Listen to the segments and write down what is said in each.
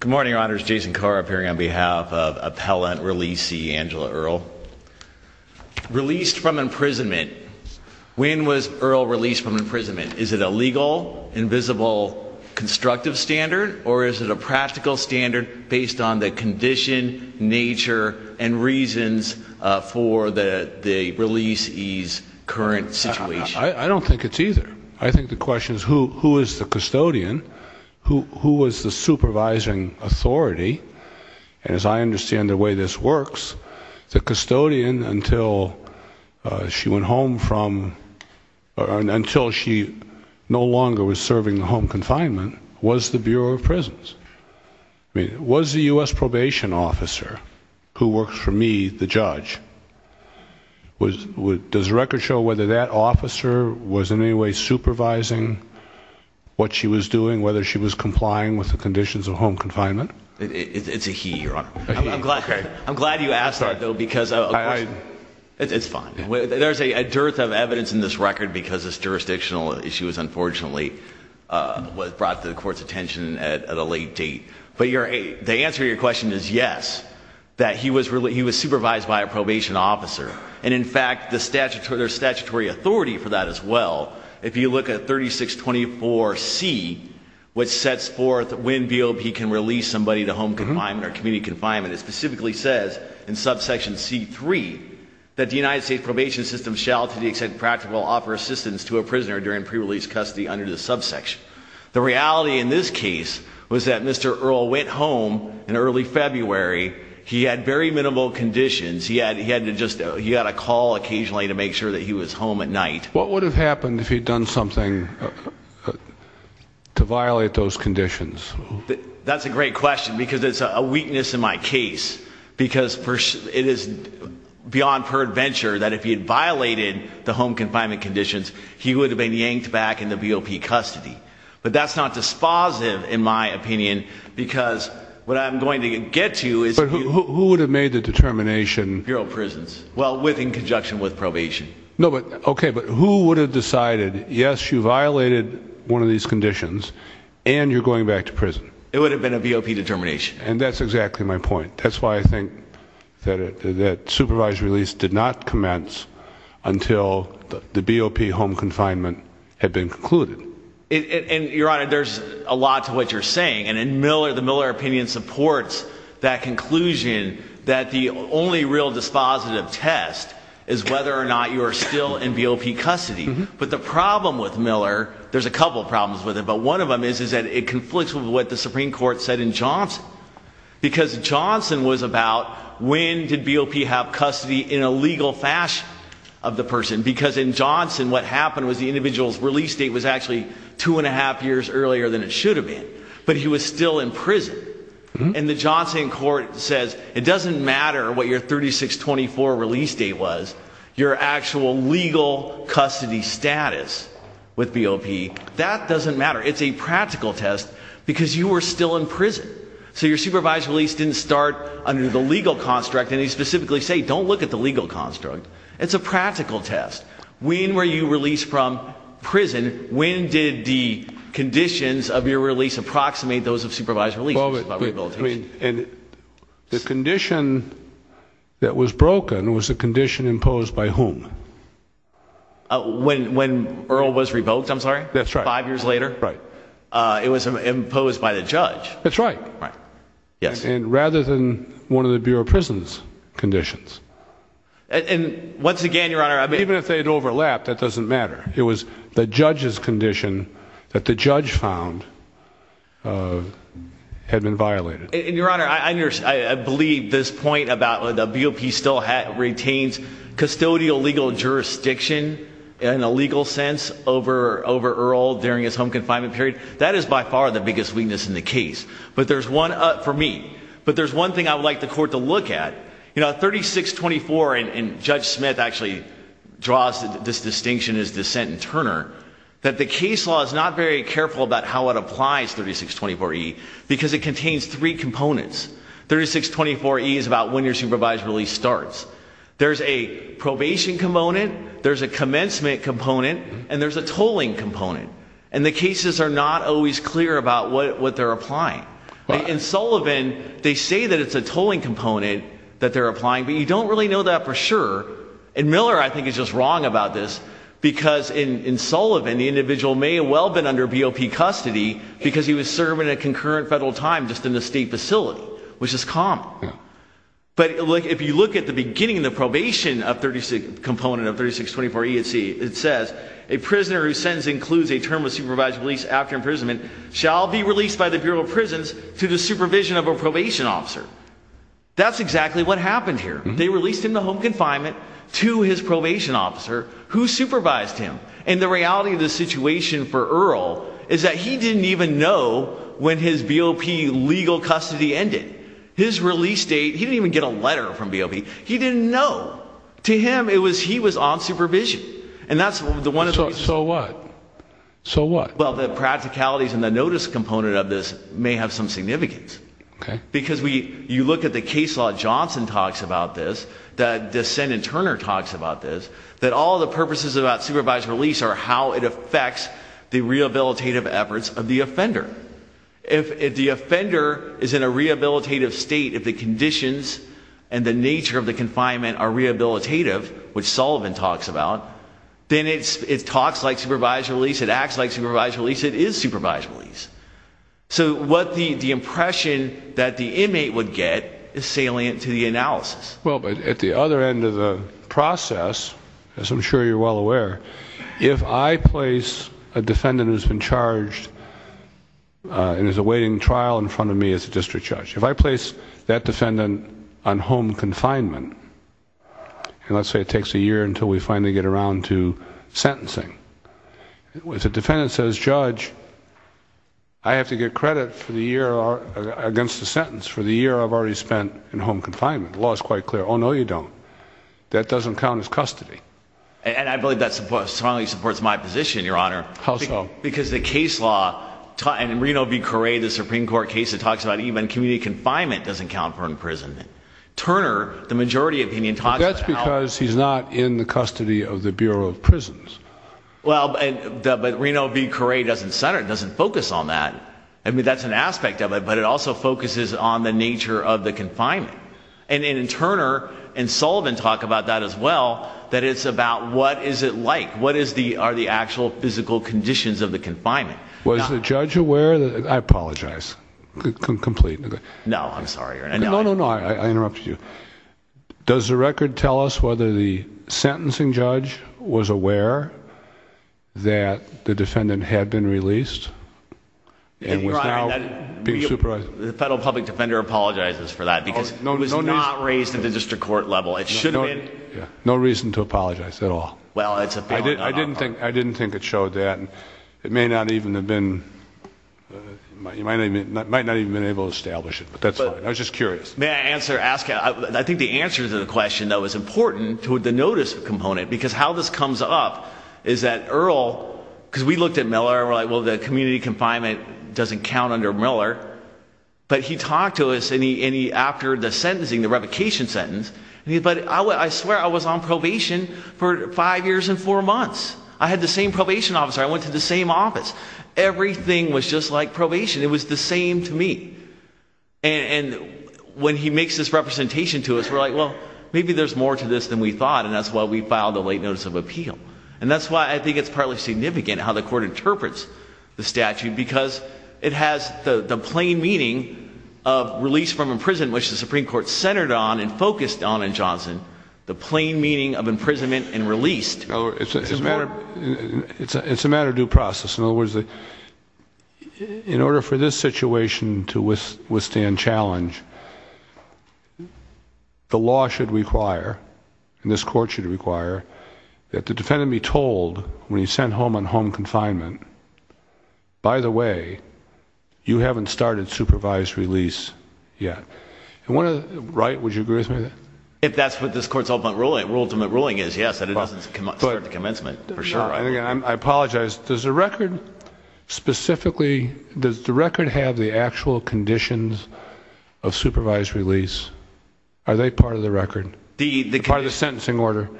Good morning, Your Honors. Jason Carr appearing on behalf of Appellant Releasee Angela Earl. Released from imprisonment. When was Earl released from imprisonment? Is it a legal, invisible, constructive standard? Or is it a practical standard based on the condition, nature, and reasons for the releasee's current situation? I don't think it's either. I think the question is who is the custodian? Who was the supervising authority? And as I understand the way this works, the custodian, until she went home from, until she no longer was serving home confinement, was the Bureau of Prisons. Was the U.S. probation officer, who works for me, the judge, does the record show whether that officer was in any way supervising what she was doing, whether she was complying with the conditions of home confinement? It's a he, Your Honor. I'm glad you asked that, though, because it's fine. There's a dearth of evidence in this record because this jurisdictional issue was unfortunately brought to the Court's attention at a late date. But the answer to your question is yes, that he was supervised by a probation officer. And in fact, there's statutory authority for that as well. If you look at 3624C, which sets forth when BOP can release somebody to home confinement or community confinement, it specifically says in subsection C3 that the United States probation system shall to the extent practical offer assistance to a prisoner during pre-release custody under the subsection. The reality in this case was that Mr. Earle went home in early February. He had very minimal conditions. He had to just, he had a call occasionally to make sure that he was home at night. What would have happened if he'd done something to violate those conditions? That's a great question because it's a weakness in my case. Because it is beyond peradventure that if he had violated the home confinement conditions, he would have been yanked back into BOP custody. But that's not dispositive, in my opinion, because what I'm going to get to is... But who would have made the determination... Bureau of Prisons. Well, in conjunction with probation. No, but, okay, but who would have decided, yes, you violated one of these conditions, and you're going back to prison? It would have been a BOP determination. And that's exactly my point. That's why I think that supervised release did not commence until the BOP home confinement had been concluded. And, Your Honor, there's a lot to what you're saying. And the Miller opinion supports that conclusion that the only real dispositive test is whether or not you are still in BOP custody. But the problem with Miller, there's a couple problems with it, but one of them is that it conflicts with what the Supreme Court said in Johnson. Because Johnson was about, when did BOP have custody in a legal fashion of the person? Because in Johnson, what happened was the individual's release date was actually two and a half years earlier than it should have been. But he was still in prison. And the Johnson court says, it doesn't matter what your 3624 release date was, your actual legal custody status with BOP, that doesn't matter. It's a practical test, because you were still in prison. So your supervised release didn't start under the legal construct. And they specifically say, don't look at the legal construct. It's a practical test. When were you released from prison? When did the conditions of your release approximate those of supervised release? The condition that was broken was a condition imposed by whom? When Earl was revoked, I'm sorry? That's right. Five years later? Right. It was imposed by the judge. That's right. Right. Yes. And rather than one of the Bureau of Prison's conditions. And once again, Your Honor, I mean. Even if they had overlapped, that doesn't matter. It was the judge's condition that the judge found had been violated. And, Your Honor, I believe this point about the BOP still retains custodial legal jurisdiction in a legal sense over Earl during his home confinement period. That is by far the biggest weakness in the case for me. But there's one thing I would like the court to look at. You know, 3624, and Judge Smith actually draws this distinction as dissent in Turner, that the case law is not very careful about how it applies, 3624E, because it contains three components. 3624E is about when your supervised release starts. There's a probation component. There's a commencement component. And there's a tolling component. And the cases are not always clear about what they're applying. In Sullivan, they say that it's a tolling component that they're applying, but you don't really know that for sure. And Miller, I think, is just wrong about this, because in Sullivan, the individual may have well been under BOP custody because he was serving a concurrent federal time just in the state facility, which is common. But if you look at the beginning of the probation component of 3624E, it says, a prisoner whose sentence includes a term of supervised release after imprisonment shall be released by the Bureau of Prisons to the supervision of a probation officer. That's exactly what happened here. They released him to home confinement to his probation officer, who supervised him. And the reality of the situation for Earl is that he didn't even know when his BOP legal custody ended. His release date, he didn't even get a letter from BOP. He didn't know. To him, he was on supervision. And that's one of the reasons. So what? So what? Well, the practicalities and the notice component of this may have some significance. Okay. Because you look at the case law Johnson talks about this, the sentence Turner talks about this, that all the purposes about supervised release are how it affects the rehabilitative efforts of the offender. If the offender is in a rehabilitative state, if the conditions and the nature of the confinement are rehabilitative, which Sullivan talks about, then it talks like supervised release. It acts like supervised release. It is supervised release. So what the impression that the inmate would get is salient to the analysis. Well, but at the other end of the process, as I'm sure you're well aware, if I place a defendant who's been charged and is awaiting trial in front of me as a district judge, if I place that defendant on home confinement, and let's say it takes a year until we finally get around to sentencing, if the defendant says, Judge, I have to get credit for the year against the sentence for the year I've already spent in home confinement, the law is quite clear. Oh, no, you don't. That doesn't count as custody. And I believe that strongly supports my position, Your Honor. How so? Because the case law, and in Reno v. Correa, the Supreme Court case, it talks about even community confinement doesn't count for imprisonment. Turner, the majority opinion, talks about how. But that's because he's not in the custody of the Bureau of Prisons. Well, but Reno v. Correa doesn't center, doesn't focus on that. I mean, that's an aspect of it, but it also focuses on the nature of the confinement. And Turner and Sullivan talk about that as well, that it's about what is it like, what are the actual physical conditions of the confinement. Was the judge aware, I apologize, completely. No, I'm sorry, Your Honor. No, no, no, I interrupted you. Does the record tell us whether the sentencing judge was aware that the defendant had been released and was now being supervised? The federal public defender apologizes for that, because he was not raised at the district court level. No reason to apologize at all. I didn't think it showed that. It might not even have been able to establish it, but that's fine. I was just curious. May I ask, I think the answer to the question, though, is important to the notice component. Because how this comes up is that Earl, because we looked at Miller, and we're like, well, the community confinement doesn't count under Miller. But he talked to us, and after the sentencing, the revocation sentence, he said, but I swear I was on probation for five years and four months. I had the same probation officer. I went to the same office. Everything was just like probation. It was the same to me. And when he makes this representation to us, we're like, well, maybe there's more to this than we thought, and that's why we filed the late notice of appeal. And that's why I think it's partly significant how the court interprets the statute, because it has the plain meaning of release from imprisonment, which the Supreme Court centered on and focused on in Johnson, the plain meaning of imprisonment and released. It's a matter of due process. In other words, in order for this situation to withstand challenge, the law should require, and this court should require, that the defendant be told when he's sent home on home confinement, by the way, you haven't started supervised release yet. Right? Would you agree with me on that? If that's what this court's ultimate ruling is, yes, that it doesn't start the commencement, for sure. I apologize. Does the record specifically, does the record have the actual conditions of supervised release? Are they part of the record, part of the sentencing order?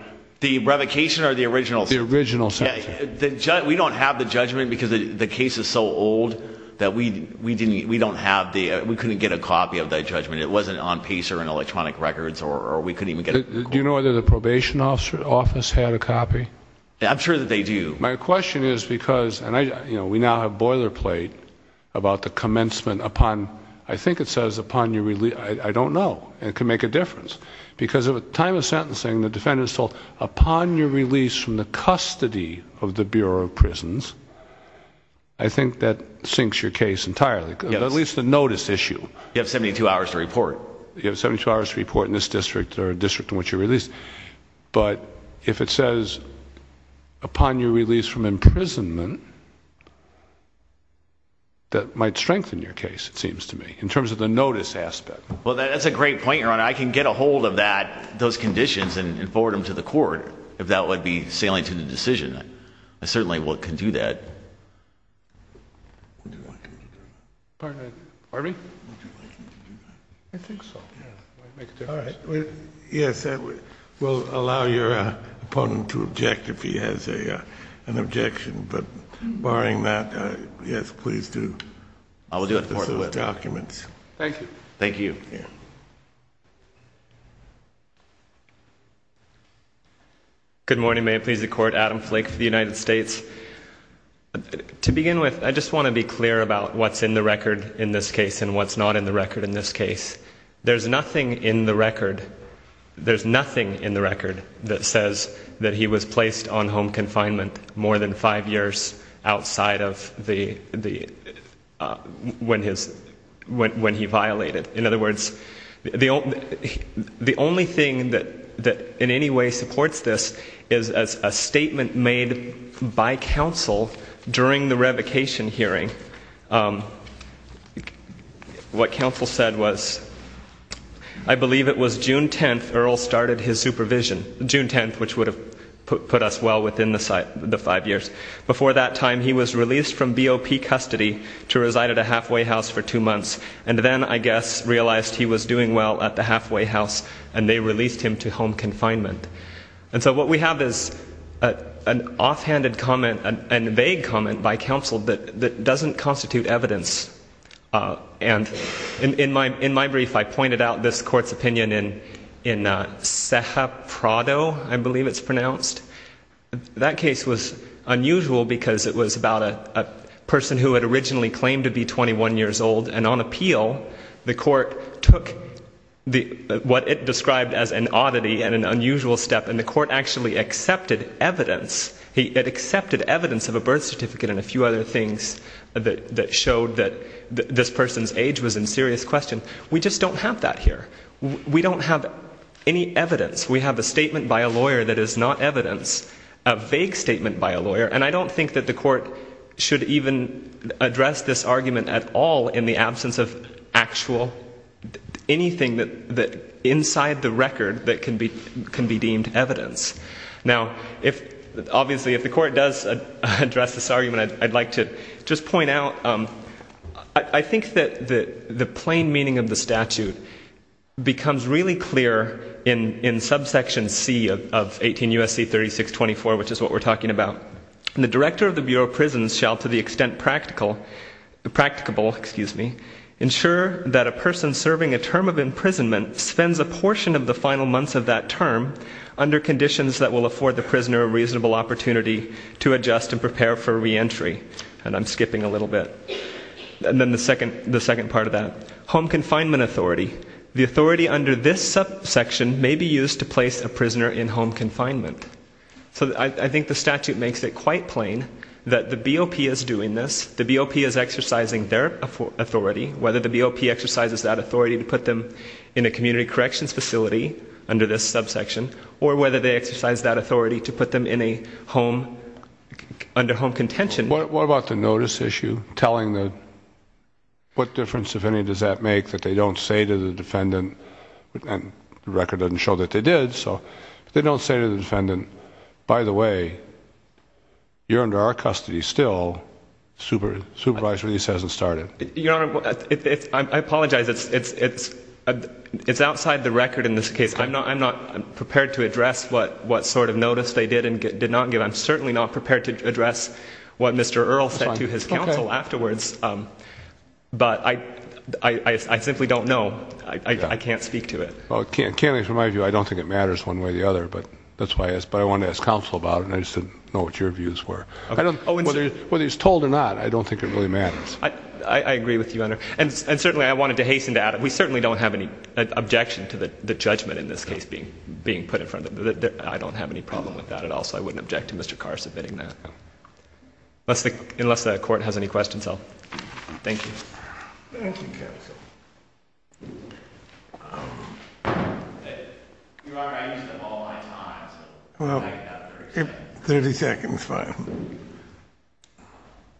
The revocation or the original? The original. We don't have the judgment because the case is so old that we didn't, we don't have the, we couldn't get a copy of that judgment. It wasn't on pacer and electronic records, or we couldn't even get a copy. Do you know whether the probation office had a copy? I'm sure that they do. My question is because, and I, you know, we now have boilerplate about the commencement upon, I think it says upon your release, I don't know. It could make a difference. Because at the time of sentencing the defendant is told, upon your release from the custody of the Bureau of Prisons, I think that sinks your case entirely. Yes. At least the notice issue. You have 72 hours to report. You have 72 hours to report in this district or a district in which you're released. But if it says upon your release from imprisonment, that might strengthen your case, it seems to me, in terms of the notice aspect. Well, that's a great point, Your Honor. I can get a hold of that, those conditions and forward them to the court. If that would be salient to the decision, I certainly can do that. Pardon me? I think so. All right. Yes, we'll allow your opponent to object if he has an objection. But barring that, yes, please do. I'll do it. Thank you. Thank you. Good morning. May it please the Court. Adam Flake for the United States. To begin with, I just want to be clear about what's in the record in this case and what's not in the record in this case. There's nothing in the record that says that he was placed on home confinement more than five years outside of when he violated. In other words, the only thing that in any way supports this is a statement made by counsel during the revocation hearing. What counsel said was, I believe it was June 10th Earl started his supervision, June 10th, which would have put us well within the five years. Before that time, he was released from BOP custody to reside at a halfway house for two months and then, I guess, realized he was doing well at the halfway house and they released him to home confinement. And so what we have is an offhanded comment, a vague comment by counsel that doesn't constitute evidence. And in my brief, I pointed out this Court's opinion in Ceja Prado, I believe it's pronounced. That case was unusual because it was about a person who had originally claimed to be 21 years old and on appeal the Court took what it described as an oddity and an unusual step and the Court actually accepted evidence. It accepted evidence of a birth certificate and a few other things that showed that this person's age was in serious question. We just don't have that here. We don't have any evidence. We have a statement by a lawyer that is not evidence, a vague statement by a lawyer, and I don't think that the Court should even address this argument at all in the absence of actual anything inside the record that can be deemed evidence. Now, obviously, if the Court does address this argument, I'd like to just point out, I think that the plain meaning of the statute becomes really clear in subsection C of 18 U.S.C. 3624, which is what we're talking about. The director of the Bureau of Prisons shall to the extent practicable ensure that a person serving a term of imprisonment spends a portion of the final months of that term under conditions that will afford the prisoner a reasonable opportunity to adjust and prepare for reentry. And I'm skipping a little bit. And then the second part of that. Home confinement authority. The authority under this subsection may be used to place a prisoner in home confinement. So I think the statute makes it quite plain that the BOP is doing this. The BOP is exercising their authority, whether the BOP exercises that authority to put them in a community corrections facility under this subsection or whether they exercise that authority to put them in a home, under home contention. What about the notice issue telling the... What difference, if any, does that make that they don't say to the defendant, and the record doesn't show that they did, so they don't say to the defendant, by the way, you're under our custody still. Supervisory lease hasn't started. Your Honor, I apologize. It's outside the record in this case. I'm not prepared to address what sort of notice they did and did not give. I'm certainly not prepared to address what Mr. Earle said to his counsel afterwards. But I simply don't know. I can't speak to it. Well, from my view, I don't think it matters one way or the other. But I wanted to ask counsel about it, and I just didn't know what your views were. Whether he's told or not, I don't think it really matters. I agree with you, Your Honor. And certainly I wanted to hasten to add, we certainly don't have any objection to the judgment in this case being put in front of... I don't have any problem with that at all, so I wouldn't object to Mr. Carr submitting that. Unless the court has any questions, I'll... Thank you. Thank you, counsel. Your Honor, I used up all my time, so... Well, 30 seconds, fine.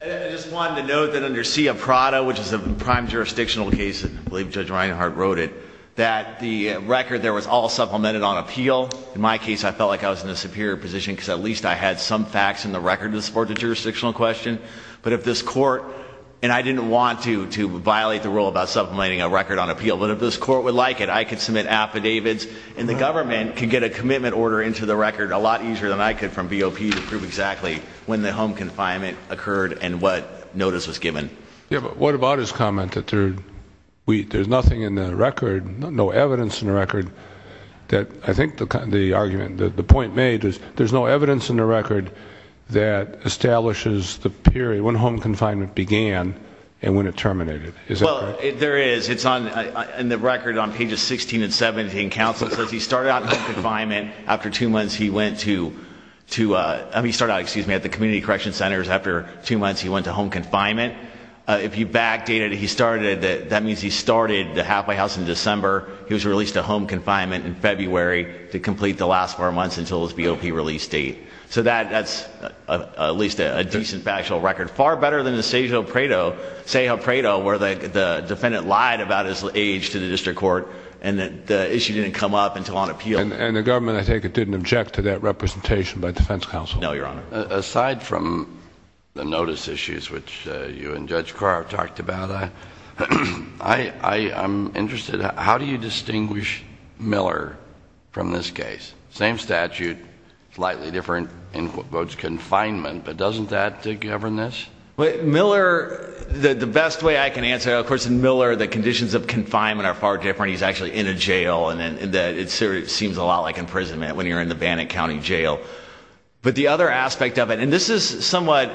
I just wanted to note that under Cia Prada, which is a prime jurisdictional case, and I believe Judge Reinhart wrote it, that the record there was all supplemented on appeal. In my case, I felt like I was in a superior position because at least I had some facts in the record to support the jurisdictional question. But if this court... And I didn't want to violate the rule about supplementing a record on appeal, but if this court would like it, I could submit affidavits, and the government could get a commitment order into the record a lot easier than I could from BOP to prove exactly when the home confinement occurred and what notice was given. Yeah, but what about his comment that there's nothing in the record, no evidence in the record that... I think the argument, the point made, is there's no evidence in the record that establishes the period when home confinement began and when it terminated. Is that correct? Well, there is. It's on... In the record on pages 16 and 17, counsel says he started out in home confinement. After two months, he went to... I mean, he started out, excuse me, at the community correction centers. After two months, he went to home confinement. If you back-date it, he started... That means he started the halfway house in December. He was released to home confinement in February to complete the last four months until his BOP release date. So that's at least a decent factual record, far better than the Sejo Prado, where the defendant lied about his age to the district court and the issue didn't come up until on appeal. And the government, I take it, didn't object to that representation by defense counsel? No, Your Honor. Aside from the notice issues, which you and Judge Carr have talked about, I'm interested... How do you distinguish Miller from this case? Same statute, slightly different in quotes, confinement, but doesn't that govern this? Miller... The best way I can answer... Of course, in Miller, the conditions of confinement are far different. He's actually in a jail, and it seems a lot like imprisonment when you're in the Bannock County Jail. But the other aspect of it... And this is somewhat...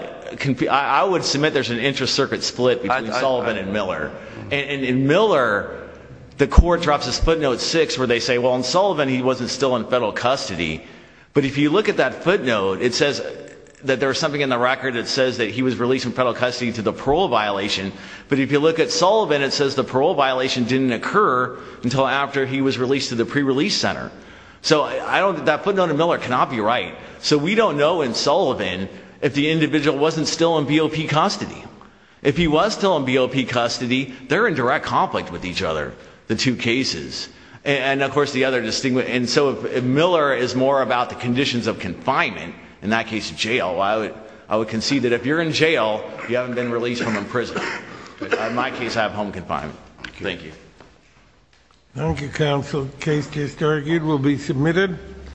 I would submit there's an inter-circuit split between Sullivan and Miller. In Miller, the court drops this footnote 6, where they say, well, in Sullivan, he wasn't still in federal custody. But if you look at that footnote, it says that there was something in the record that says that he was released from federal custody due to the parole violation. But if you look at Sullivan, it says the parole violation didn't occur until after he was released to the pre-release center. So that footnote in Miller cannot be right. So we don't know in Sullivan if the individual wasn't still in BOP custody. If he was still in BOP custody, they're in direct conflict with each other, the two cases. And, of course, the other... And so if Miller is more about the conditions of confinement, in that case, jail, I would concede that if you're in jail, you haven't been released from imprisonment. In my case, I have home confinement. Thank you. Thank you, counsel. The case just argued will be submitted.